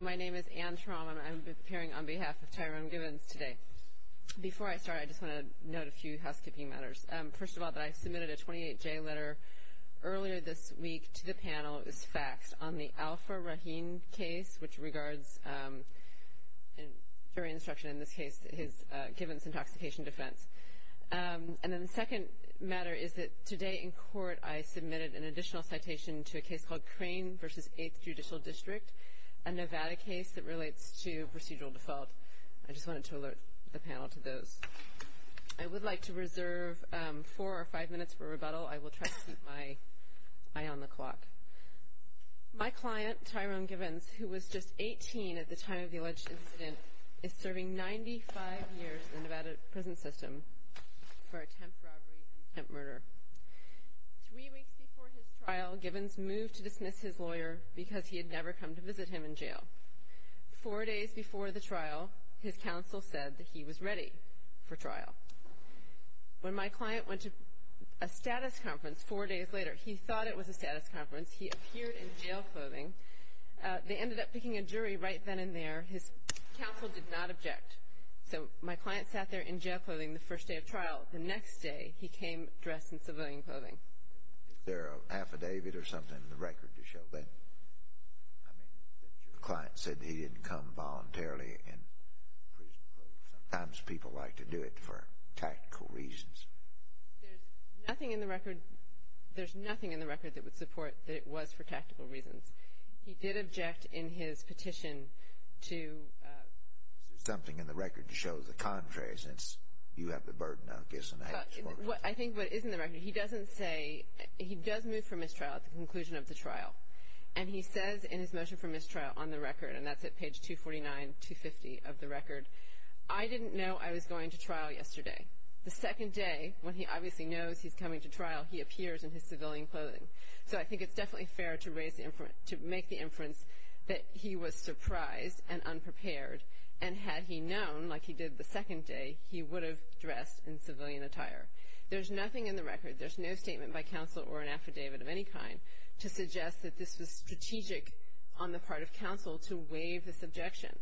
My name is Anne Traum, and I'm appearing on behalf of Tyrone Givens today. Before I start, I just want to note a few housekeeping matters. First of all, that I submitted a 28-J letter earlier this week to the panel. It was faxed on the Alpha Rahim case, which regards, during instruction in this case, his Givens intoxication defense. And then the second matter is that today in court I submitted an additional citation to a case called Crane v. 8th Judicial District, a Nevada case that relates to procedural default. I just wanted to alert the panel to those. I would like to reserve four or five minutes for rebuttal. I will try to keep my eye on the clock. My client, Tyrone Givens, who was just 18 at the time of the alleged incident, is serving 95 years in the Nevada prison system for attempt robbery and attempt murder. Three weeks before his trial, Givens moved to dismiss his lawyer because he had never come to visit him in jail. Four days before the trial, his counsel said that he was ready for trial. When my client went to a status conference four days later, he thought it was a status conference. He appeared in jail clothing. They ended up picking a jury right then and there. His counsel did not object. Until the next day, he came dressed in civilian clothing. Is there an affidavit or something in the record to show that, I mean, that your client said he didn't come voluntarily in prison clothing? Sometimes people like to do it for tactical reasons. There's nothing in the record that would support that it was for tactical reasons. He did object in his petition to Is there something in the record to show the contrary since you have the burden of this? I think what is in the record, he doesn't say, he does move for mistrial at the conclusion of the trial, and he says in his motion for mistrial on the record, and that's at page 249, 250 of the record, I didn't know I was going to trial yesterday. The second day, when he obviously knows he's coming to trial, he appears in his civilian clothing. So I think it's definitely fair to make the inference that he was surprised and unprepared, and had he known, like he did the second day, he would have dressed in civilian attire. There's nothing in the record, there's no statement by counsel or an affidavit of any kind, to suggest that this was strategic on the part of counsel to waive this objection.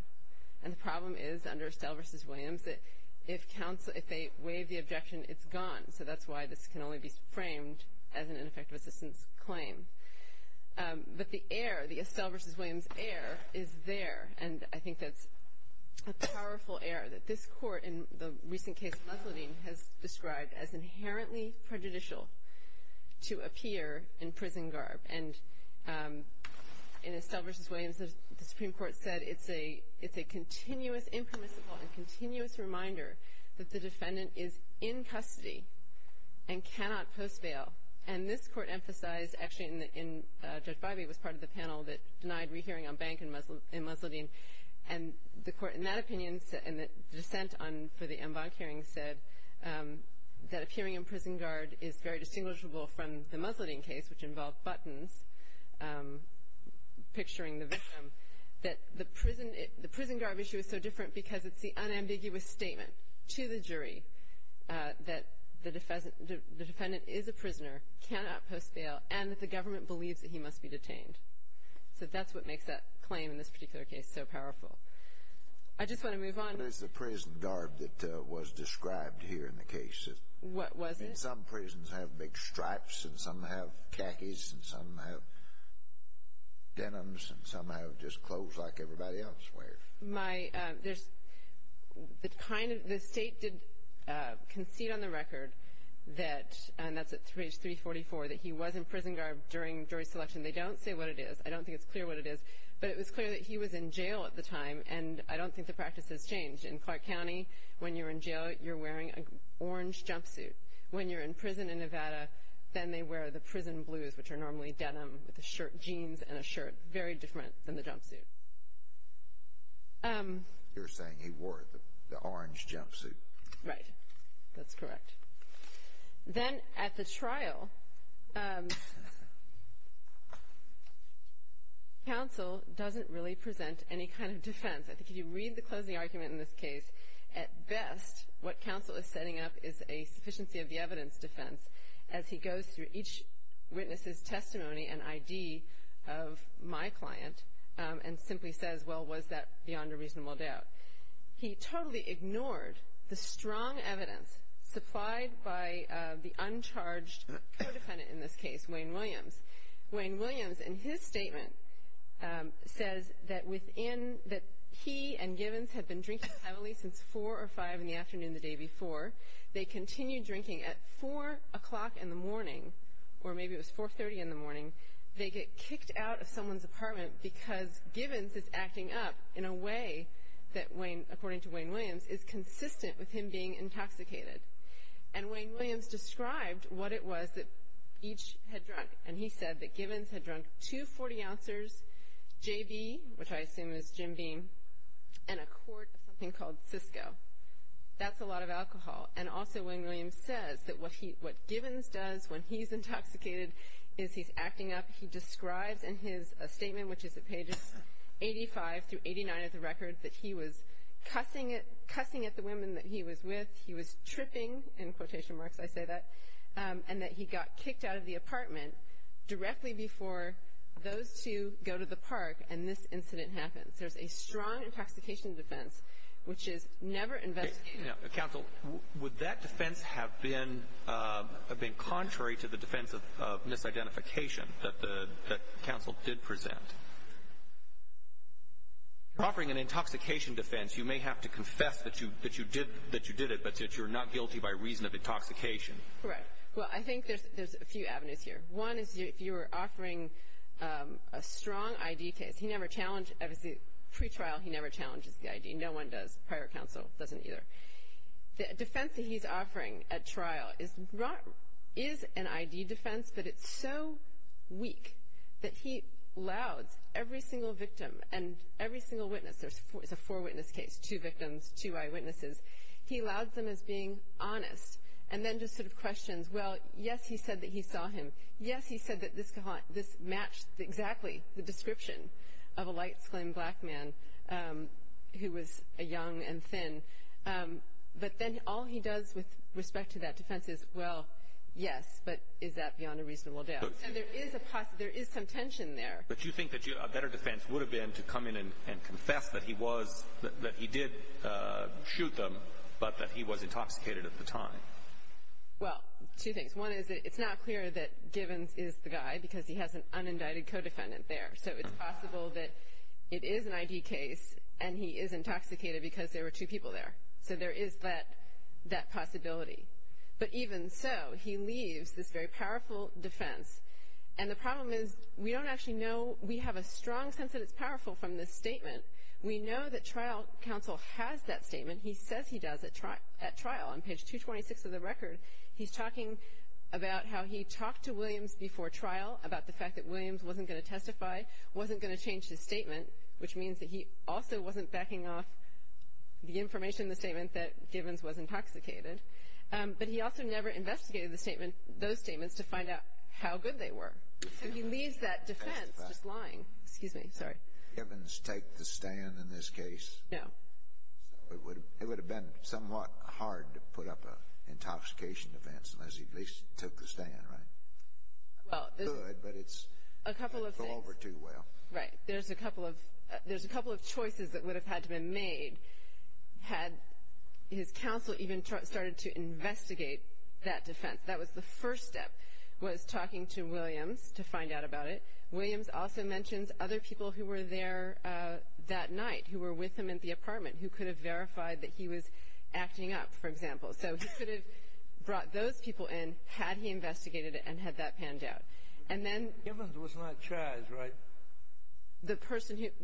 And the problem is, under Estelle v. Williams, that if they waive the objection, it's gone. So that's why this can only be framed as an ineffective assistance claim. But the error, the Estelle v. Williams error, is there, and I think that's a powerful error, that this court in the recent case of Leslie has described as inherently prejudicial to appear in prison garb. And in Estelle v. Williams, the Supreme Court said it's a continuous impermissible and continuous reminder that the defendant is in custody and cannot post bail. And this court emphasized, actually in Judge Bivey was part of the panel, that denied rehearing on Bank and Musladeen. And the court in that opinion, and the dissent for the Ambonk hearing, said that appearing in prison garb is very distinguishable from the Musladeen case, which involved buttons, picturing the victim, that the prison garb issue is so different because it's the unambiguous statement to the jury that the defendant is a prisoner, cannot post bail, and that the government believes that he must be detained. So that's what makes that claim in this particular case so powerful. I just want to move on. What is the prison garb that was described here in the case? What was it? Some prisons have big stripes, and some have khakis, and some have denims, and some have just clothes like everybody else wears. The state did concede on the record that, and that's at page 344, that he was in prison garb during jury selection. They don't say what it is. I don't think it's clear what it is. But it was clear that he was in jail at the time, and I don't think the practice has changed. In Clark County, when you're in jail, you're wearing an orange jumpsuit. When you're in prison in Nevada, then they wear the prison blues, which are normally denim with a shirt, jeans, and a shirt, very different than the jumpsuit. You're saying he wore the orange jumpsuit. Right. That's correct. Then at the trial, counsel doesn't really present any kind of defense. I think if you read the closing argument in this case, at best what counsel is setting up is a sufficiency of the evidence defense. As he goes through each witness's testimony and ID of my client and simply says, well, was that beyond a reasonable doubt? He totally ignored the strong evidence supplied by the uncharged co-defendant in this case, Wayne Williams. Wayne Williams, in his statement, says that he and Givens had been drinking heavily since 4 or 5 in the afternoon the day before. They continued drinking at 4 o'clock in the morning, or maybe it was 4.30 in the morning. They get kicked out of someone's apartment because Givens is acting up in a way that, according to Wayne Williams, is consistent with him being intoxicated. And Wayne Williams described what it was that each had drunk, and he said that Givens had drunk two 40-ouncers, J.B., which I assume is Jim Beam, and a quart of something called Cisco. That's a lot of alcohol. And also, Wayne Williams says that what Givens does when he's intoxicated is he's acting up. He describes in his statement, which is at pages 85 through 89 of the record, that he was cussing at the women that he was with, he was tripping, in quotation marks I say that, and that he got kicked out of the apartment directly before those two go to the park and this incident happens. There's a strong intoxication defense, which is never investigated. Counsel, would that defense have been contrary to the defense of misidentification that counsel did present? You're offering an intoxication defense. You may have to confess that you did it, but that you're not guilty by reason of intoxication. Correct. Well, I think there's a few avenues here. One is if you were offering a strong I.D. case. He never challenged, pre-trial, he never challenges the I.D. No one does. Prior counsel doesn't either. The defense that he's offering at trial is an I.D. defense, but it's so weak that he louds every single victim and every single witness. It's a four-witness case, two victims, two eyewitnesses. He louds them as being honest and then just sort of questions. Well, yes, he said that he saw him. Yes, he said that this matched exactly the description of a light-skinned black man who was young and thin. But then all he does with respect to that defense is, well, yes, but is that beyond a reasonable doubt? There is some tension there. But you think that a better defense would have been to come in and confess that he did shoot them, but that he was intoxicated at the time? Well, two things. One is that it's not clear that Givens is the guy because he has an unindicted co-defendant there, so it's possible that it is an I.D. case and he is intoxicated because there were two people there. So there is that possibility. But even so, he leaves this very powerful defense. And the problem is we don't actually know. We have a strong sense that it's powerful from this statement. We know that trial counsel has that statement. He says he does at trial. On page 226 of the record, he's talking about how he talked to Williams before trial about the fact that Williams wasn't going to testify, wasn't going to change his statement, which means that he also wasn't backing off the information in the statement that Givens was intoxicated. But he also never investigated those statements to find out how good they were. So he leaves that defense just lying. Excuse me. Sorry. Givens take the stand in this case. No. It would have been somewhat hard to put up an intoxication defense unless he at least took the stand, right? Well, there's a couple of things. It's good, but it doesn't go over too well. Right. There's a couple of choices that would have had to be made had his counsel even started to investigate that defense. That was the first step, was talking to Williams to find out about it. Williams also mentions other people who were there that night, who were with him in the apartment, who could have verified that he was acting up, for example. So he could have brought those people in had he investigated it and had that panned out. Givens was not charged, right?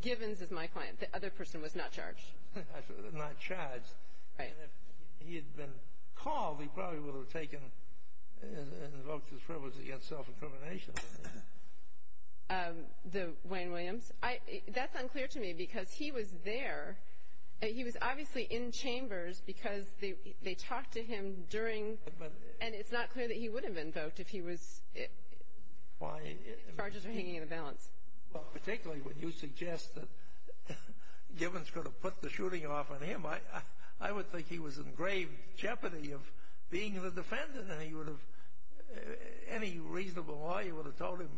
Givens is my client. The other person was not charged. Not charged. Right. If he had been called, he probably would have taken and invoked his privilege against self-incrimination. Wayne Williams? That's unclear to me because he was there. He was obviously in chambers because they talked to him during and it's not clear that he would have invoked if charges were hanging in the balance. Particularly when you suggest that Givens could have put the shooting off on him. I would think he was in grave jeopardy of being the defendant and any reasonable lawyer would have told him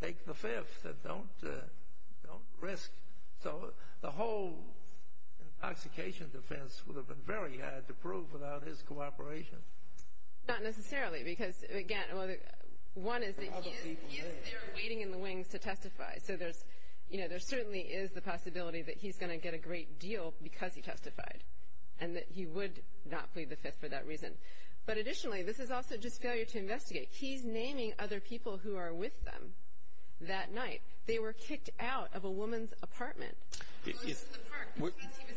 take the fifth and don't risk. So the whole intoxication defense would have been very hard to prove without his cooperation. Not necessarily because, again, one is that he is there waiting in the wings to testify. So there certainly is the possibility that he's going to get a great deal because he testified and that he would not plead the fifth for that reason. But additionally, this is also just failure to investigate. He's naming other people who are with them that night. They were kicked out of a woman's apartment. He was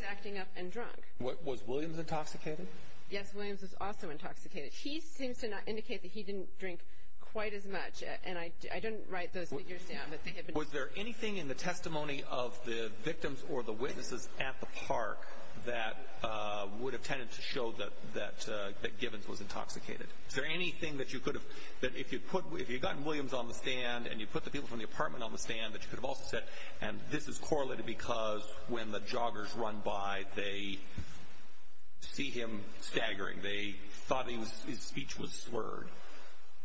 acting up and drunk. Was Williams intoxicated? Yes, Williams was also intoxicated. He seems to indicate that he didn't drink quite as much. And I didn't write those figures down. Was there anything in the testimony of the victims or the witnesses at the park that would have tended to show that Givens was intoxicated? Is there anything that if you had gotten Williams on the stand and you put the people from the apartment on the stand that you could have also said, and this is correlated because when the joggers run by, they see him staggering. They thought his speech was slurred.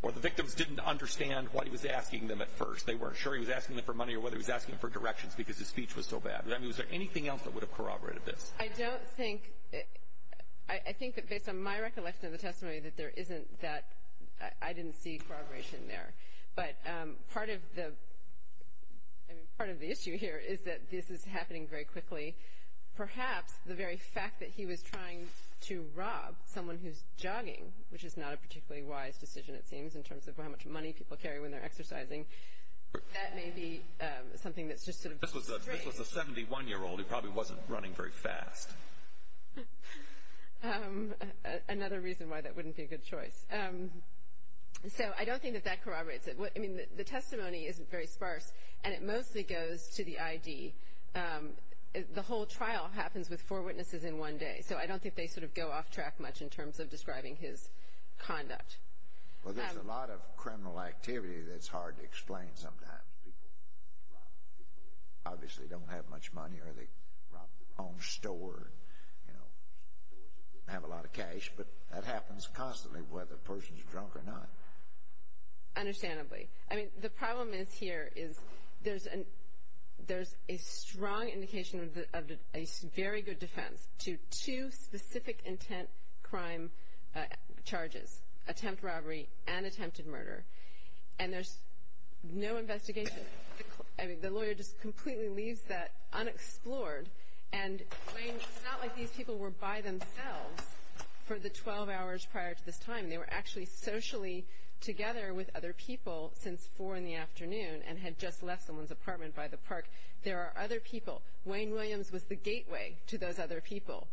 Or the victims didn't understand what he was asking them at first. They weren't sure he was asking them for money or whether he was asking them for directions because his speech was so bad. I mean, was there anything else that would have corroborated this? I don't think. I think that based on my recollection of the testimony that there isn't that. I didn't see corroboration there. But part of the issue here is that this is happening very quickly. Perhaps the very fact that he was trying to rob someone who's jogging, which is not a particularly wise decision, it seems, in terms of how much money people carry when they're exercising. That may be something that's just sort of strange. This was a 71-year-old who probably wasn't running very fast. Another reason why that wouldn't be a good choice. So I don't think that that corroborates it. I mean, the testimony isn't very sparse, and it mostly goes to the ID. The whole trial happens with four witnesses in one day, so I don't think they sort of go off track much in terms of describing his conduct. Well, there's a lot of criminal activity that's hard to explain sometimes. People rob people who obviously don't have much money, or they rob their own store and have a lot of cash. But that happens constantly, whether a person's drunk or not. Understandably. I mean, the problem is here is there's a strong indication of a very good defense to two specific intent crime charges, attempt robbery and attempted murder. And there's no investigation. I mean, the lawyer just completely leaves that unexplored. And, Wayne, it's not like these people were by themselves for the 12 hours prior to this time. They were actually socially together with other people since 4 in the afternoon and had just left someone's apartment by the park. There are other people. Wayne Williams was the gateway to those other people,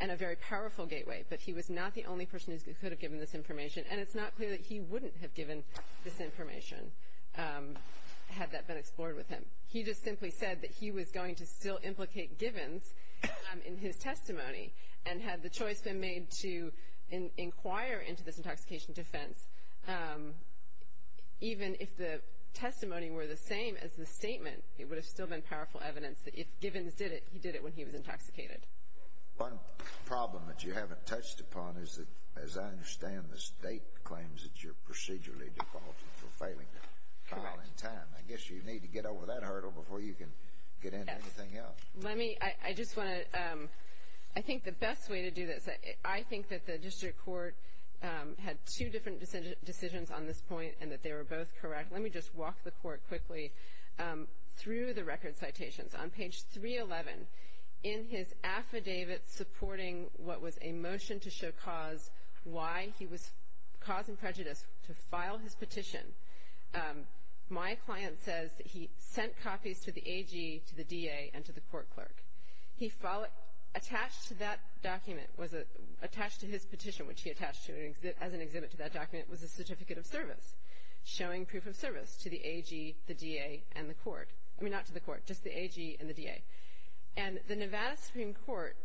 and a very powerful gateway. But he was not the only person who could have given this information, and it's not clear that he wouldn't have given this information had that been explored with him. He just simply said that he was going to still implicate Givens in his testimony and had the choice been made to inquire into this intoxication defense, even if the testimony were the same as the statement, it would have still been powerful evidence that if Givens did it, he did it when he was intoxicated. One problem that you haven't touched upon is that, as I understand, the State claims that you're procedurally defaulted for failing to file in time. I guess you need to get over that hurdle before you can get into anything else. Let me, I just want to, I think the best way to do this, I think that the district court had two different decisions on this point and that they were both correct. Let me just walk the court quickly through the record citations. On page 311, in his affidavit supporting what was a motion to show cause, why he was causing prejudice to file his petition, my client says that he sent copies to the AG, to the DA, and to the court clerk. He followed, attached to that document was a, attached to his petition, which he attached to as an exhibit to that document, was a certificate of service, showing proof of service to the AG, the DA, and the court. I mean, not to the court, just the AG and the DA. And the Nevada Supreme Court,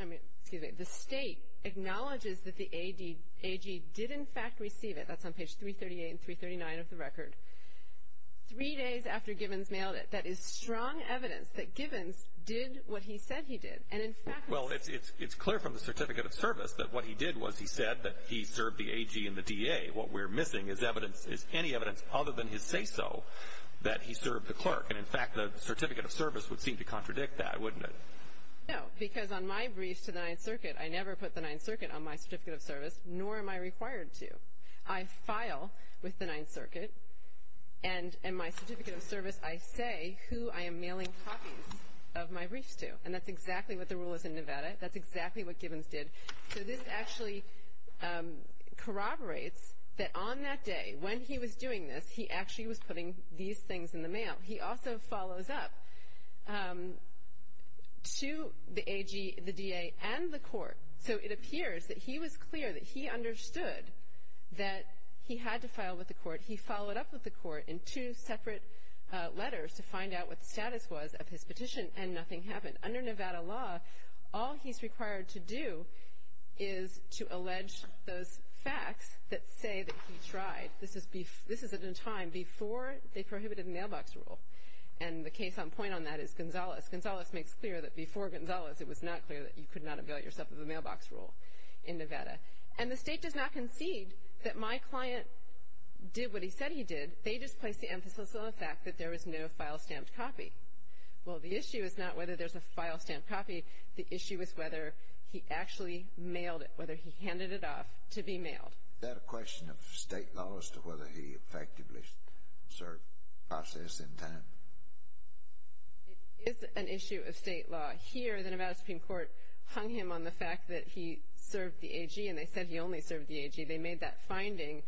I mean, excuse me, the State acknowledges that the AG did, in fact, receive it. That's on page 338 and 339 of the record. Three days after Gibbons mailed it, that is strong evidence that Gibbons did what he said he did. And, in fact, it's clear from the certificate of service that what he did was he said that he served the AG and the DA. What we're missing is evidence, is any evidence other than his say-so that he served the clerk. And, in fact, the certificate of service would seem to contradict that, wouldn't it? No, because on my briefs to the Ninth Circuit, I never put the Ninth Circuit on my certificate of service, nor am I required to. I file with the Ninth Circuit, and in my certificate of service, I say who I am mailing copies of my briefs to. And that's exactly what the rule is in Nevada. That's exactly what Gibbons did. So this actually corroborates that on that day, when he was doing this, he actually was putting these things in the mail. He also follows up to the AG, the DA, and the court. So it appears that he was clear that he understood that he had to file with the court. He followed up with the court in two separate letters to find out what the status was of his petition, and nothing happened. Under Nevada law, all he's required to do is to allege those facts that say that he tried. This is at a time before they prohibited the mailbox rule. And the case on point on that is Gonzalez. Gonzalez makes clear that before Gonzalez, it was not clear that you could not avail yourself of the mailbox rule in Nevada. And the State does not concede that my client did what he said he did. They just placed the emphasis on the fact that there was no file-stamped copy. Well, the issue is not whether there's a file-stamped copy. The issue is whether he actually mailed it, whether he handed it off to be mailed. Is that a question of State law as to whether he effectively served process in time? It is an issue of State law. Here, the Nevada Supreme Court hung him on the fact that he served the AG, and they said he only served the AG. They made that finding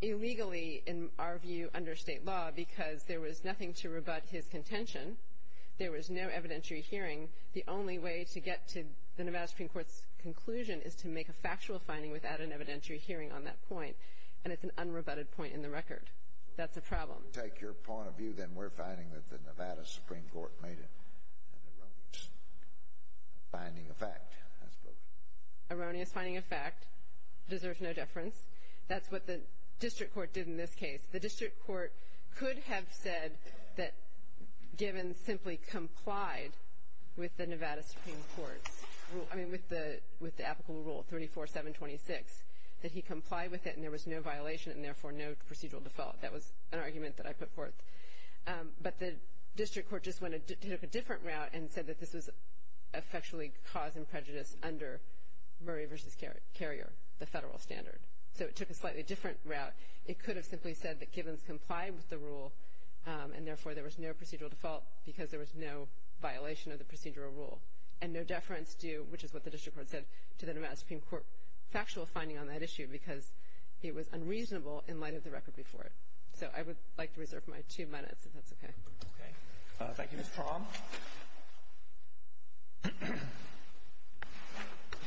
illegally, in our view, under State law because there was nothing to rebut his contention. There was no evidentiary hearing. The only way to get to the Nevada Supreme Court's conclusion is to make a factual finding without an evidentiary hearing on that point. And it's an unrebutted point in the record. That's a problem. If we take your point of view, then we're finding that the Nevada Supreme Court made an erroneous finding of fact, I suppose. Erroneous finding of fact deserves no deference. That's what the district court did in this case. The district court could have said that, given simply complied with the Nevada Supreme Court's rule, I mean, with the applicable rule 34-726, that he complied with it and there was no violation and, therefore, no procedural default. That was an argument that I put forth. But the district court just took a different route and said that this was effectually cause and prejudice under Murray v. Carrier, the federal standard. So it took a slightly different route. It could have simply said that given complied with the rule and, therefore, there was no procedural default because there was no violation of the procedural rule and no deference due, which is what the district court said, to the Nevada Supreme Court factual finding on that issue because it was unreasonable in light of the record before it. So I would like to reserve my two minutes, if that's okay. Okay. Thank you, Ms. Traum. Good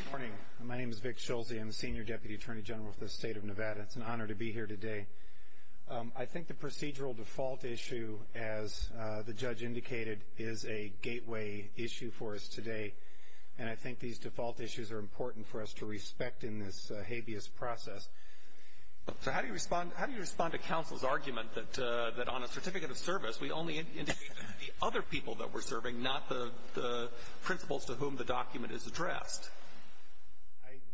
morning. My name is Vic Schulze. I'm the Senior Deputy Attorney General for the State of Nevada. It's an honor to be here today. I think the procedural default issue, as the judge indicated, is a gateway issue for us today, and I think these default issues are important for us to respect in this habeas process. So how do you respond to counsel's argument that on a certificate of service, we only indicate to the other people that we're serving, not the principals to whom the document is addressed?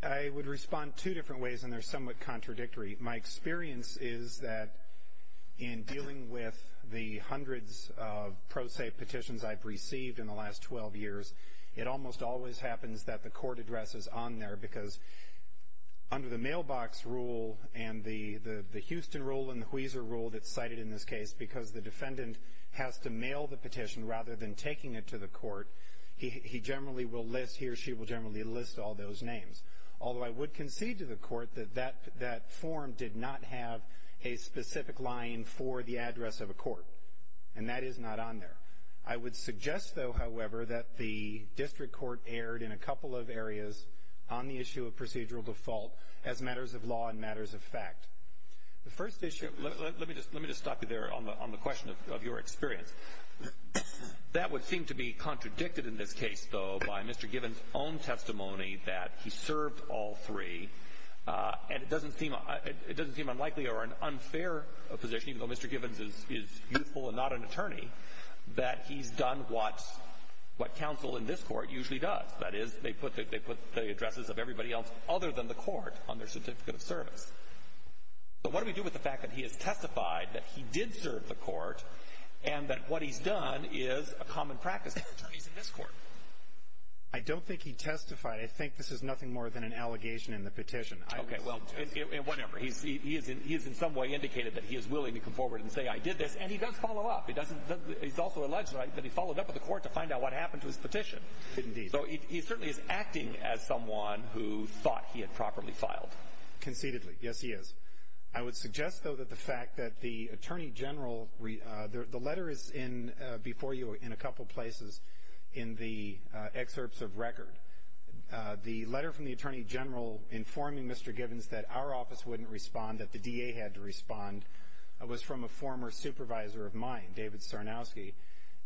I would respond two different ways, and they're somewhat contradictory. My experience is that in dealing with the hundreds of pro se petitions I've received in the last 12 years, it almost always happens that the court address is on there because under the mailbox rule and the Houston rule and the Huizar rule that's cited in this case, because the defendant has to mail the petition rather than taking it to the court, he generally will list, he or she will generally list all those names. Although I would concede to the court that that form did not have a specific line for the address of a court, and that is not on there. I would suggest, though, however, that the district court erred in a couple of areas on the issue of procedural default as matters of law and matters of fact. The first issue, let me just stop you there on the question of your experience. That would seem to be contradicted in this case, though, by Mr. Givens' own testimony that he served all three, and it doesn't seem unlikely or an unfair position, even though Mr. Givens is youthful and not an attorney, that he's done what counsel in this court usually does. That is, they put the addresses of everybody else other than the court on their certificate of service. But what do we do with the fact that he has testified that he did serve the court and that what he's done is a common practice for attorneys in this court? I don't think he testified. I think this is nothing more than an allegation in the petition. Okay, well, whatever. He has in some way indicated that he is willing to come forward and say I did this, and he does follow up. He's also alleged that he followed up with the court to find out what happened to his petition. Indeed. So he certainly is acting as someone who thought he had properly filed. Conceitedly. Yes, he is. I would suggest, though, that the fact that the attorney general, the letter is before you in a couple places in the excerpts of record. The letter from the attorney general informing Mr. Givens that our office wouldn't respond, that the DA had to respond, was from a former supervisor of mine, David Sarnowski.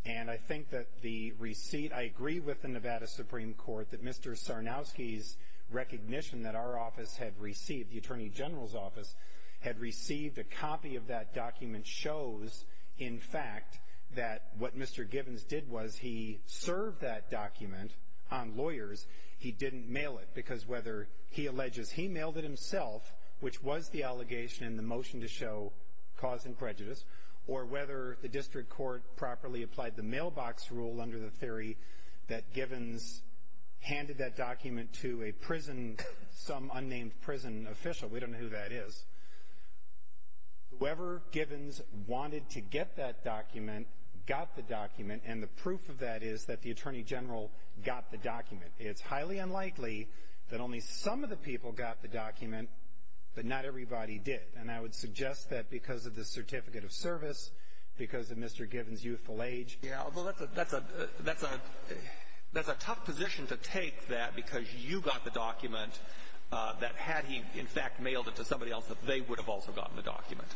And I think that the receipt, I agree with the Nevada Supreme Court, that Mr. Sarnowski's recognition that our office had received, the attorney general's office, had received a copy of that document shows, in fact, that what Mr. Givens did was he served that document on lawyers. He didn't mail it because whether he alleges he mailed it himself, which was the allegation in the motion to show cause and prejudice, or whether the district court properly applied the mailbox rule under the theory that Givens handed that document to a prison, some unnamed prison official, we don't know who that is. Whoever Givens wanted to get that document got the document, and the proof of that is that the attorney general got the document. It's highly unlikely that only some of the people got the document, but not everybody did. And I would suggest that because of the certificate of service, because of Mr. Givens' youthful age. Yeah, although that's a tough position to take, that because you got the document, that had he, in fact, mailed it to somebody else, that they would have also gotten the document.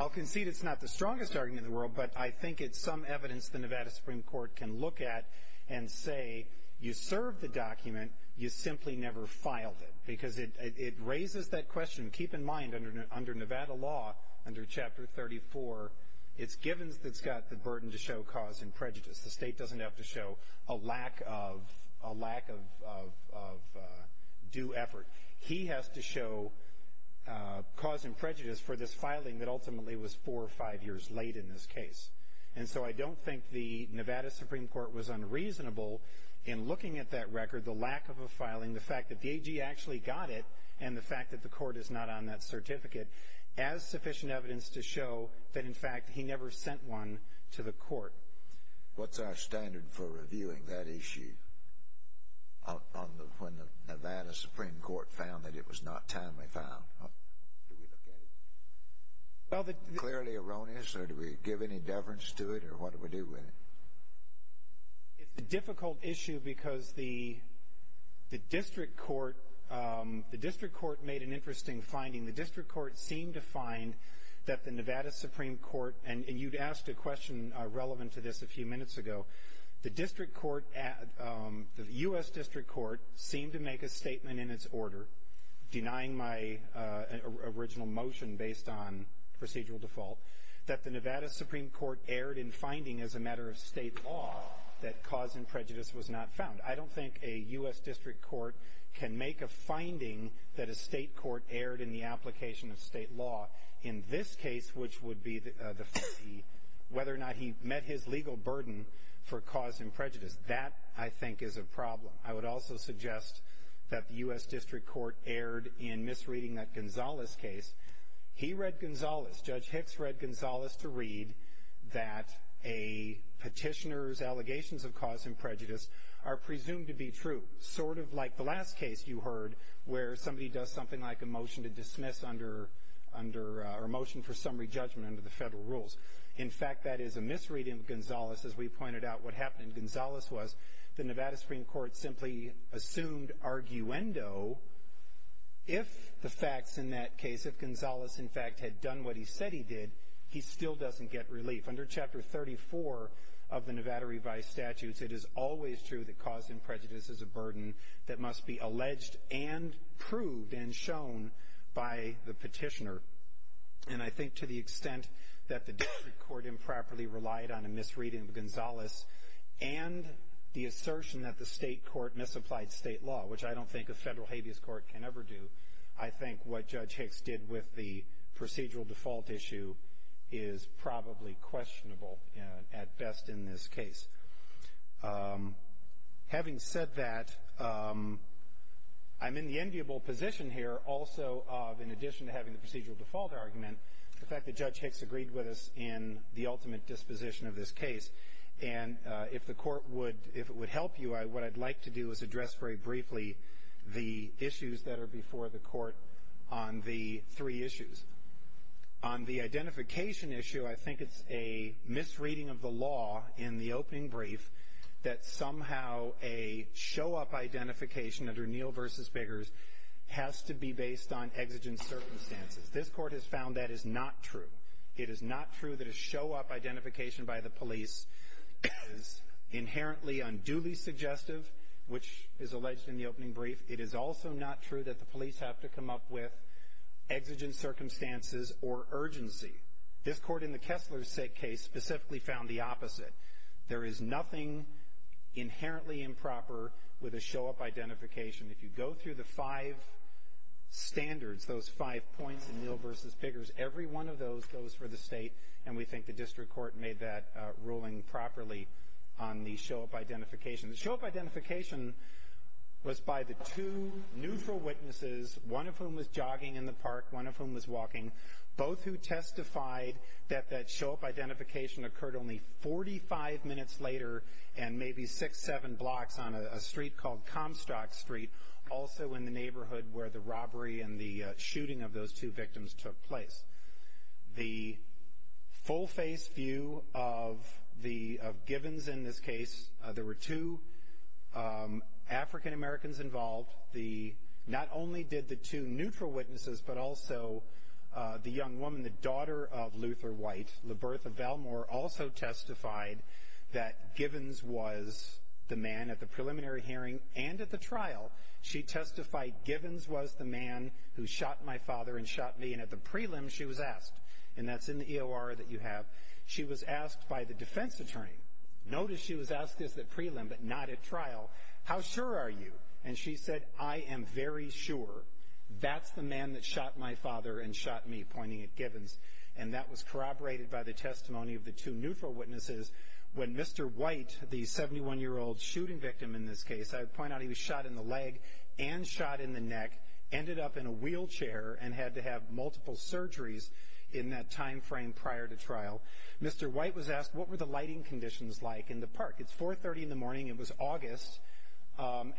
I'll concede it's not the strongest argument in the world, but I think it's some evidence the Nevada Supreme Court can look at and say, you served the document, you simply never filed it. Because it raises that question. Keep in mind, under Nevada law, under Chapter 34, it's Givens that's got the burden to show cause and prejudice. The state doesn't have to show a lack of due effort. He has to show cause and prejudice for this filing that ultimately was four or five years late in this case. And so I don't think the Nevada Supreme Court was unreasonable in looking at that record, the lack of a filing, the fact that the AG actually got it, and the fact that the court is not on that certificate, as sufficient evidence to show that, in fact, he never sent one to the court. What's our standard for reviewing that issue when the Nevada Supreme Court found that it was not timely filed? Do we look at it as clearly erroneous, or do we give any deference to it, or what do we do with it? It's a difficult issue because the district court made an interesting finding. The district court seemed to find that the Nevada Supreme Court, and you'd asked a question relevant to this a few minutes ago, the U.S. district court seemed to make a statement in its order, denying my original motion based on procedural default, that the Nevada Supreme Court erred in finding, as a matter of state law, that cause and prejudice was not found. I don't think a U.S. district court can make a finding that a state court erred in the application of state law, in this case, which would be whether or not he met his legal burden for cause and prejudice. That, I think, is a problem. I would also suggest that the U.S. district court erred in misreading that Gonzales case. He read Gonzales. Judge Hicks read Gonzales to read that a petitioner's allegations of cause and prejudice are presumed to be true, sort of like the last case you heard where somebody does something like a motion to dismiss under, or a motion for summary judgment under the federal rules. In fact, that is a misreading of Gonzales. As we pointed out, what happened in Gonzales was the Nevada Supreme Court simply assumed arguendo. If the facts in that case, if Gonzales, in fact, had done what he said he did, he still doesn't get relief. Under Chapter 34 of the Nevada Revised Statutes, it is always true that cause and prejudice is a burden that must be alleged and proved and shown by the petitioner. And I think to the extent that the district court improperly relied on a misreading of Gonzales and the assertion that the state court misapplied state law, which I don't think a federal habeas court can ever do, I think what Judge Hicks did with the procedural default issue is probably questionable at best in this case. Having said that, I'm in the enviable position here also of, in addition to having the procedural default argument, the fact that Judge Hicks agreed with us in the ultimate disposition of this case. And if the court would, if it would help you, what I'd like to do is address very briefly the issues that are before the court on the three issues. On the identification issue, I think it's a misreading of the law in the opening brief that somehow a show-up identification under Neal v. Biggers has to be based on exigent circumstances. This court has found that is not true. It is not true that a show-up identification by the police is inherently unduly suggestive, which is alleged in the opening brief. It is also not true that the police have to come up with exigent circumstances or urgency. This court in the Kessler case specifically found the opposite. There is nothing inherently improper with a show-up identification. If you go through the five standards, those five points in Neal v. Biggers, every one of those goes for the state, and we think the district court made that ruling properly on the show-up identification. The show-up identification was by the two neutral witnesses, one of whom was jogging in the park, one of whom was walking, both who testified that that show-up identification occurred only 45 minutes later and maybe six, seven blocks on a street called Comstock Street, also in the neighborhood where the robbery and the shooting of those two victims took place. The full-face view of Gibbons in this case, there were two African-Americans involved. Not only did the two neutral witnesses, but also the young woman, the daughter of Luther White, LaBertha Valmore, also testified that Gibbons was the man at the preliminary hearing and at the trial. She testified Gibbons was the man who shot my father and shot me, and at the prelim she was asked, and that's in the EOR that you have, she was asked by the defense attorney, notice she was asked this at prelim but not at trial, how sure are you? And she said, I am very sure that's the man that shot my father and shot me, pointing at Gibbons, and that was corroborated by the testimony of the two neutral witnesses when Mr. White, the 71-year-old shooting victim in this case, I point out he was shot in the leg and shot in the neck, ended up in a wheelchair and had to have multiple surgeries in that time frame prior to trial. Mr. White was asked what were the lighting conditions like in the park. It's 4.30 in the morning. It was August.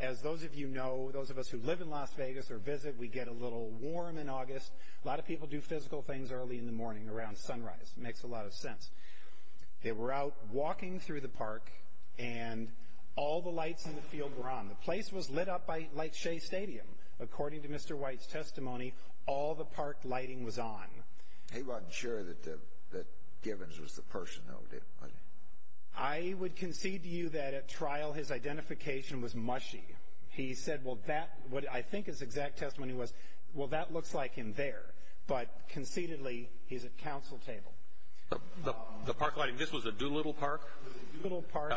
As those of you know, those of us who live in Las Vegas or visit, we get a little warm in August. A lot of people do physical things early in the morning around sunrise. It makes a lot of sense. They were out walking through the park, and all the lights in the field were on. The place was lit up like Shea Stadium. According to Mr. White's testimony, all the park lighting was on. He wasn't sure that Gibbons was the person, though, did he? I would concede to you that at trial his identification was mushy. He said what I think his exact testimony was, well, that looks like him there, but concededly he's at counsel table. The park lighting, this was a Doolittle Park? Doolittle Park.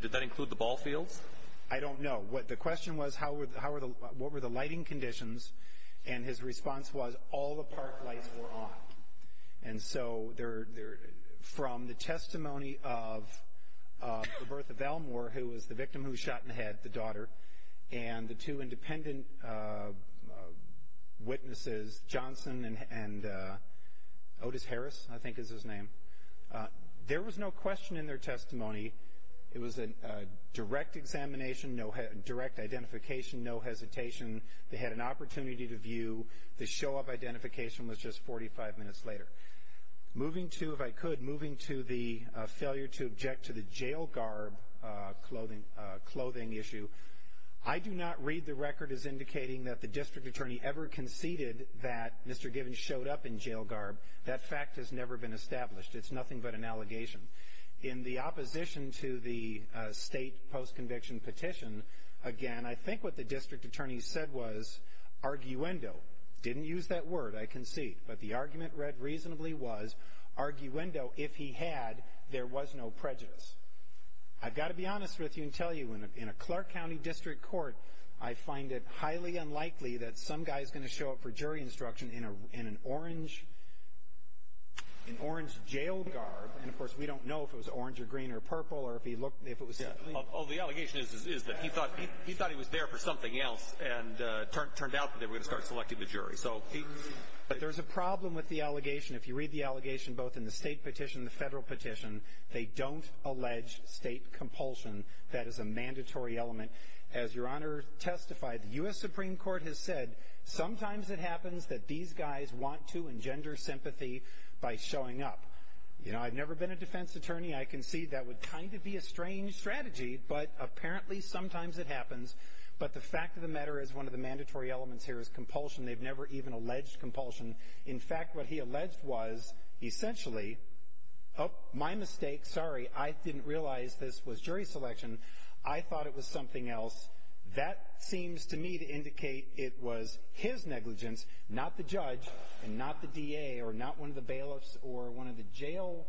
Did that include the ball fields? I don't know. The question was what were the lighting conditions, and his response was all the park lights were on. And so from the testimony of the birth of Elmore, who was the victim who was shot in the head, the daughter, and the two independent witnesses, Johnson and Otis Harris, I think is his name. There was no question in their testimony. It was a direct examination, direct identification, no hesitation. They had an opportunity to view. The show-up identification was just 45 minutes later. Moving to, if I could, moving to the failure to object to the jail garb clothing issue, I do not read the record as indicating that the district attorney ever conceded that Mr. Gibbons showed up in jail garb. That fact has never been established. It's nothing but an allegation. In the opposition to the state post-conviction petition, again, I think what the district attorney said was arguendo. Didn't use that word, I concede. But the argument read reasonably was arguendo if he had, there was no prejudice. I've got to be honest with you and tell you, in a Clark County district court, I find it highly unlikely that some guy is going to show up for jury instruction in an orange jail garb. And, of course, we don't know if it was orange or green or purple or if he looked, if it was. Oh, the allegation is that he thought he was there for something else, and it turned out that they were going to start selecting the jury. But there's a problem with the allegation. If you read the allegation both in the state petition and the federal petition, they don't allege state compulsion. That is a mandatory element. As Your Honor testified, the U.S. Supreme Court has said, sometimes it happens that these guys want to engender sympathy by showing up. You know, I've never been a defense attorney. I concede that would kind of be a strange strategy, but apparently sometimes it happens. But the fact of the matter is one of the mandatory elements here is compulsion. They've never even alleged compulsion. In fact, what he alleged was essentially, oh, my mistake, sorry, I didn't realize this was jury selection. I thought it was something else. That seems to me to indicate it was his negligence, not the judge and not the DA or not one of the bailiffs or one of the jail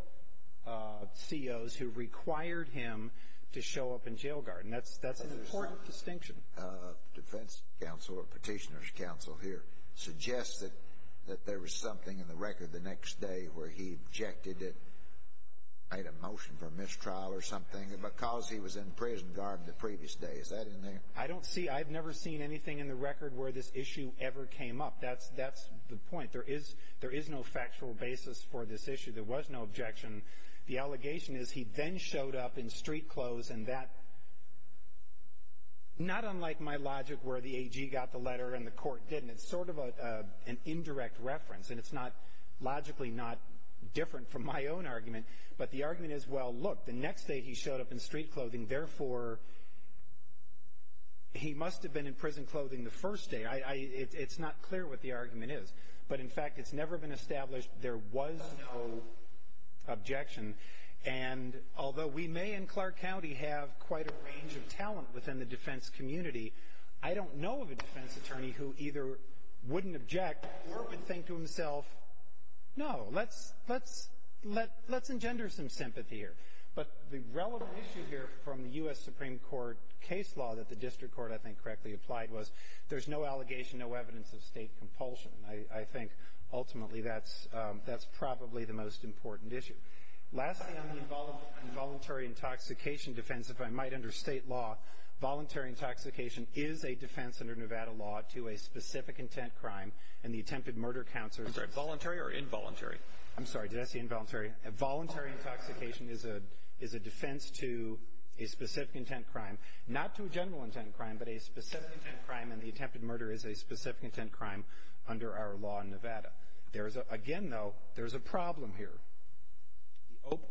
COs who required him to show up in jail guard, and that's an important distinction. The defense counsel or petitioner's counsel here suggests that there was something in the record the next day where he objected, made a motion for mistrial or something, because he was in prison guard the previous day. Is that in there? I don't see. I've never seen anything in the record where this issue ever came up. That's the point. There is no factual basis for this issue. There was no objection. The allegation is he then showed up in street clothes and that, not unlike my logic where the AG got the letter and the court didn't, it's sort of an indirect reference, and it's not logically not different from my own argument. But the argument is, well, look, the next day he showed up in street clothing, therefore he must have been in prison clothing the first day. It's not clear what the argument is. But, in fact, it's never been established there was no objection. And although we may in Clark County have quite a range of talent within the defense community, I don't know of a defense attorney who either wouldn't object or would think to himself, no, let's engender some sympathy here. But the relevant issue here from the U.S. Supreme Court case law that the district court, I think, I think ultimately that's probably the most important issue. Lastly, on the involuntary intoxication defense, if I might, under state law, voluntary intoxication is a defense under Nevada law to a specific intent crime, and the attempted murder counts are voluntary or involuntary. I'm sorry, did I say involuntary? Voluntary intoxication is a defense to a specific intent crime, not to a general intent crime, but a specific intent crime, and the attempted murder is a specific intent crime under our law in Nevada. Again, though, there's a problem here.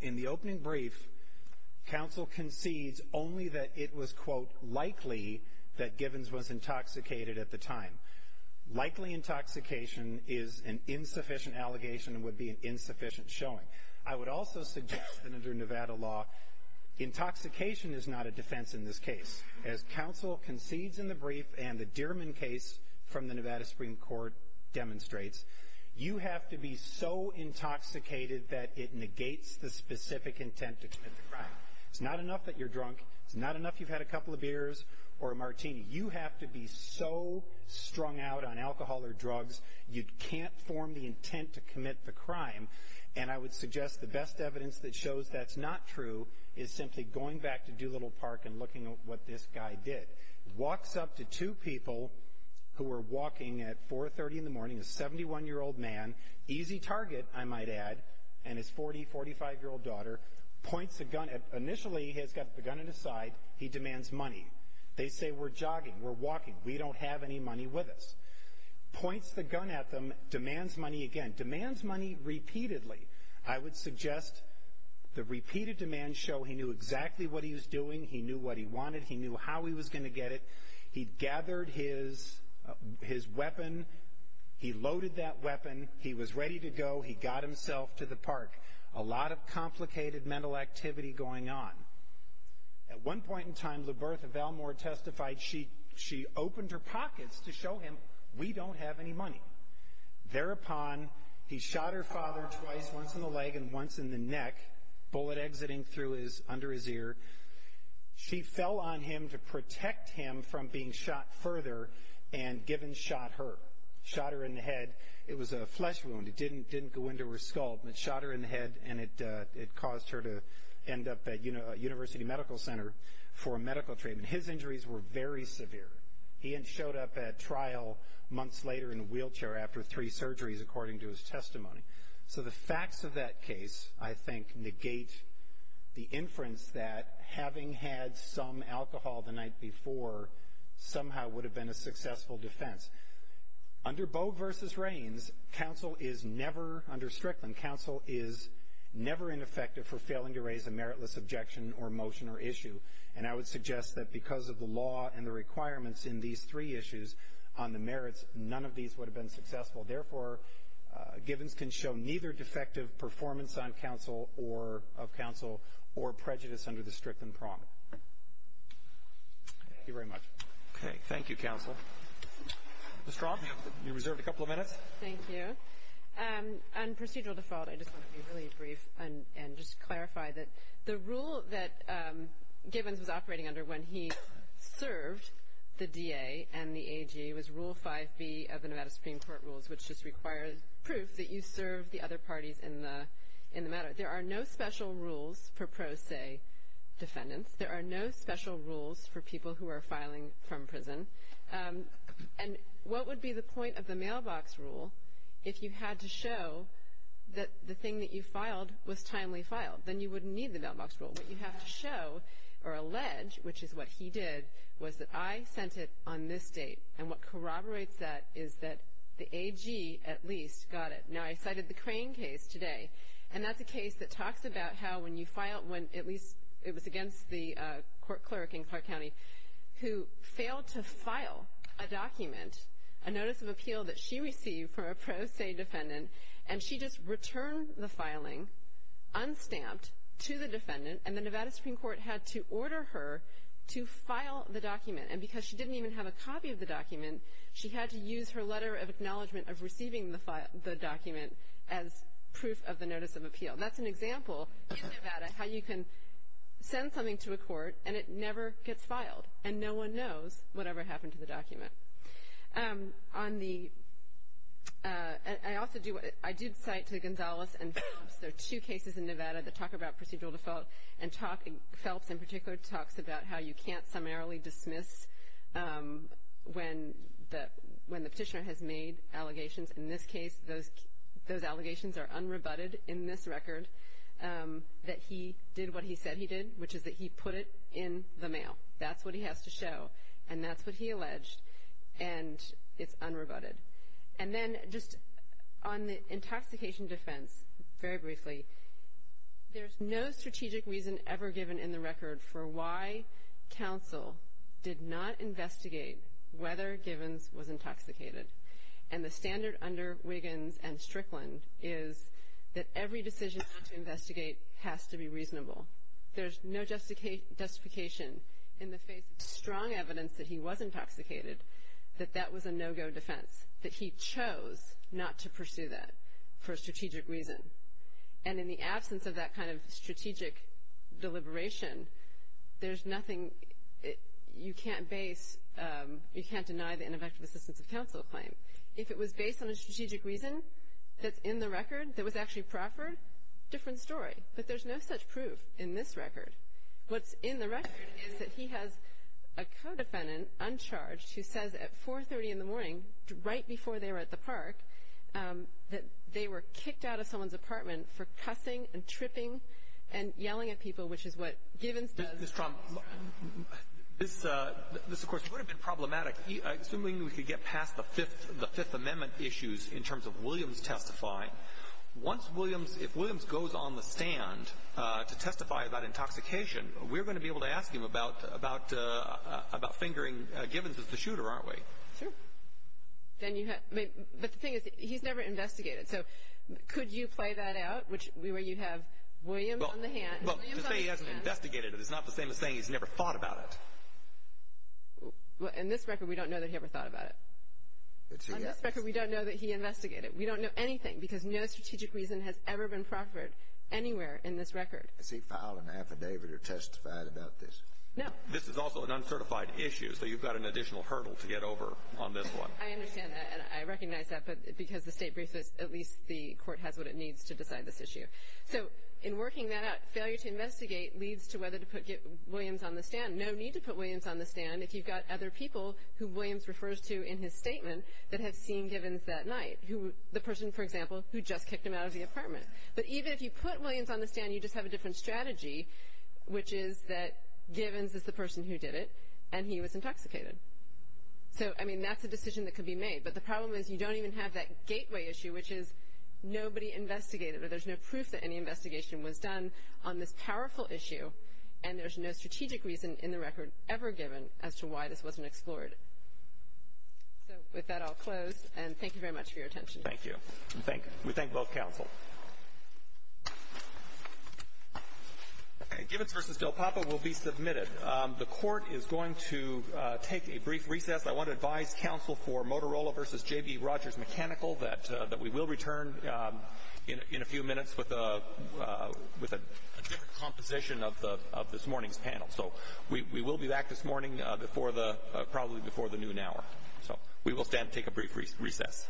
In the opening brief, counsel concedes only that it was, quote, likely that Givens was intoxicated at the time. Likely intoxication is an insufficient allegation and would be an insufficient showing. I would also suggest that under Nevada law, intoxication is not a defense in this case. As counsel concedes in the brief and the Dierman case from the Nevada Supreme Court demonstrates, you have to be so intoxicated that it negates the specific intent to commit the crime. It's not enough that you're drunk. It's not enough you've had a couple of beers or a martini. You have to be so strung out on alcohol or drugs, you can't form the intent to commit the crime, and I would suggest the best evidence that shows that's not true is simply going back to Doolittle Park and looking at what this guy did. Walks up to two people who were walking at 4.30 in the morning, a 71-year-old man, easy target, I might add, and his 40-, 45-year-old daughter, points a gun at him. Initially, he has got the gun at his side. He demands money. They say, we're jogging, we're walking, we don't have any money with us. Points the gun at them, demands money again, demands money repeatedly. I would suggest the repeated demands show he knew exactly what he was doing, he knew what he wanted, he knew how he was going to get it. He gathered his weapon, he loaded that weapon, he was ready to go, he got himself to the park. A lot of complicated mental activity going on. At one point in time, LaBertha Valmore testified she opened her pockets to show him, we don't have any money. Thereupon, he shot her father twice, once in the leg and once in the neck, bullet exiting under his ear. She fell on him to protect him from being shot further and given shot her. Shot her in the head, it was a flesh wound, it didn't go into her skull, but shot her in the head and it caused her to end up at University Medical Center for medical treatment. His injuries were very severe. He showed up at trial months later in a wheelchair after three surgeries, according to his testimony. So the facts of that case, I think, negate the inference that having had some alcohol the night before somehow would have been a successful defense. Under Bogue v. Rains, counsel is never, under Strickland, counsel is never ineffective for failing to raise a meritless objection or motion or issue. And I would suggest that because of the law and the requirements in these three issues on the merits, none of these would have been successful. Therefore, Gibbons can show neither defective performance of counsel or prejudice under the Strickland Promise. Thank you very much. Okay, thank you, counsel. Ms. Strom, you're reserved a couple of minutes. Thank you. On procedural default, I just want to be really brief and just clarify that the rule that Gibbons was operating under when he served the DA and the AG was Rule 5B of the Nevada Supreme Court rules, which just requires proof that you serve the other parties in the matter. There are no special rules for pro se defendants. There are no special rules for people who are filing from prison. And what would be the point of the mailbox rule if you had to show that the thing that you filed was timely filed? Then you wouldn't need the mailbox rule. What you have to show or allege, which is what he did, was that I sent it on this date. And what corroborates that is that the AG at least got it. Now, I cited the Crane case today, and that's a case that talks about how when you file, when at least it was against the court clerk in Clark County who failed to file a document, a notice of appeal that she received from a pro se defendant, and she just returned the filing, unstamped, to the defendant, and the Nevada Supreme Court had to order her to file the document. And because she didn't even have a copy of the document, she had to use her letter of acknowledgment of receiving the document as proof of the notice of appeal. That's an example in Nevada how you can send something to a court and it never gets filed, and no one knows whatever happened to the document. On the – I also do – I did cite to Gonzalez and Phelps. There are two cases in Nevada that talk about procedural default, and Phelps in particular talks about how you can't summarily dismiss when the petitioner has made allegations. In this case, those allegations are unrebutted in this record that he did what he said he did, which is that he put it in the mail. That's what he has to show, and that's what he alleged, and it's unrebutted. And then just on the intoxication defense, very briefly, there's no strategic reason ever given in the record for why counsel did not investigate whether Givens was intoxicated. And the standard under Wiggins and Strickland is that every decision not to investigate has to be reasonable. There's no justification in the face of strong evidence that he was intoxicated that that was a no-go defense, that he chose not to pursue that for a strategic reason. And in the absence of that kind of strategic deliberation, there's nothing – you can't base – If it was based on a strategic reason that's in the record that was actually proffered, different story. But there's no such proof in this record. What's in the record is that he has a co-defendant uncharged who says at 4.30 in the morning, right before they were at the park, that they were kicked out of someone's apartment for cussing and tripping and yelling at people, which is what Givens does. Ms. Trump, this, of course, would have been problematic, assuming we could get past the Fifth Amendment issues in terms of Williams testifying. Once Williams – if Williams goes on the stand to testify about intoxication, we're going to be able to ask him about fingering Givens as the shooter, aren't we? Sure. But the thing is, he's never investigated. So could you play that out, where you have Williams on the hand? Well, to say he hasn't investigated is not the same as saying he's never thought about it. Well, in this record, we don't know that he ever thought about it. On this record, we don't know that he investigated. We don't know anything, because no strategic reason has ever been proffered anywhere in this record. Has he filed an affidavit or testified about this? No. This is also an uncertified issue, so you've got an additional hurdle to get over on this one. I understand that, and I recognize that, but because the state briefs us, at least the court has what it needs to decide this issue. So in working that out, failure to investigate leads to whether to put Williams on the stand. No need to put Williams on the stand if you've got other people who Williams refers to in his statement that have seen Givens that night, the person, for example, who just kicked him out of the apartment. But even if you put Williams on the stand, you just have a different strategy, which is that Givens is the person who did it, and he was intoxicated. So, I mean, that's a decision that could be made, but the problem is you don't even have that gateway issue, which is nobody investigated it. There's no proof that any investigation was done on this powerful issue, and there's no strategic reason in the record ever given as to why this wasn't explored. So with that, I'll close, and thank you very much for your attention. Thank you. We thank both counsel. Givens v. Del Papa will be submitted. The court is going to take a brief recess. I want to advise counsel for Motorola v. J.B. Rogers Mechanical that we will return in a few minutes with a different composition of this morning's panel. So we will be back this morning probably before the noon hour. So we will stand and take a brief recess.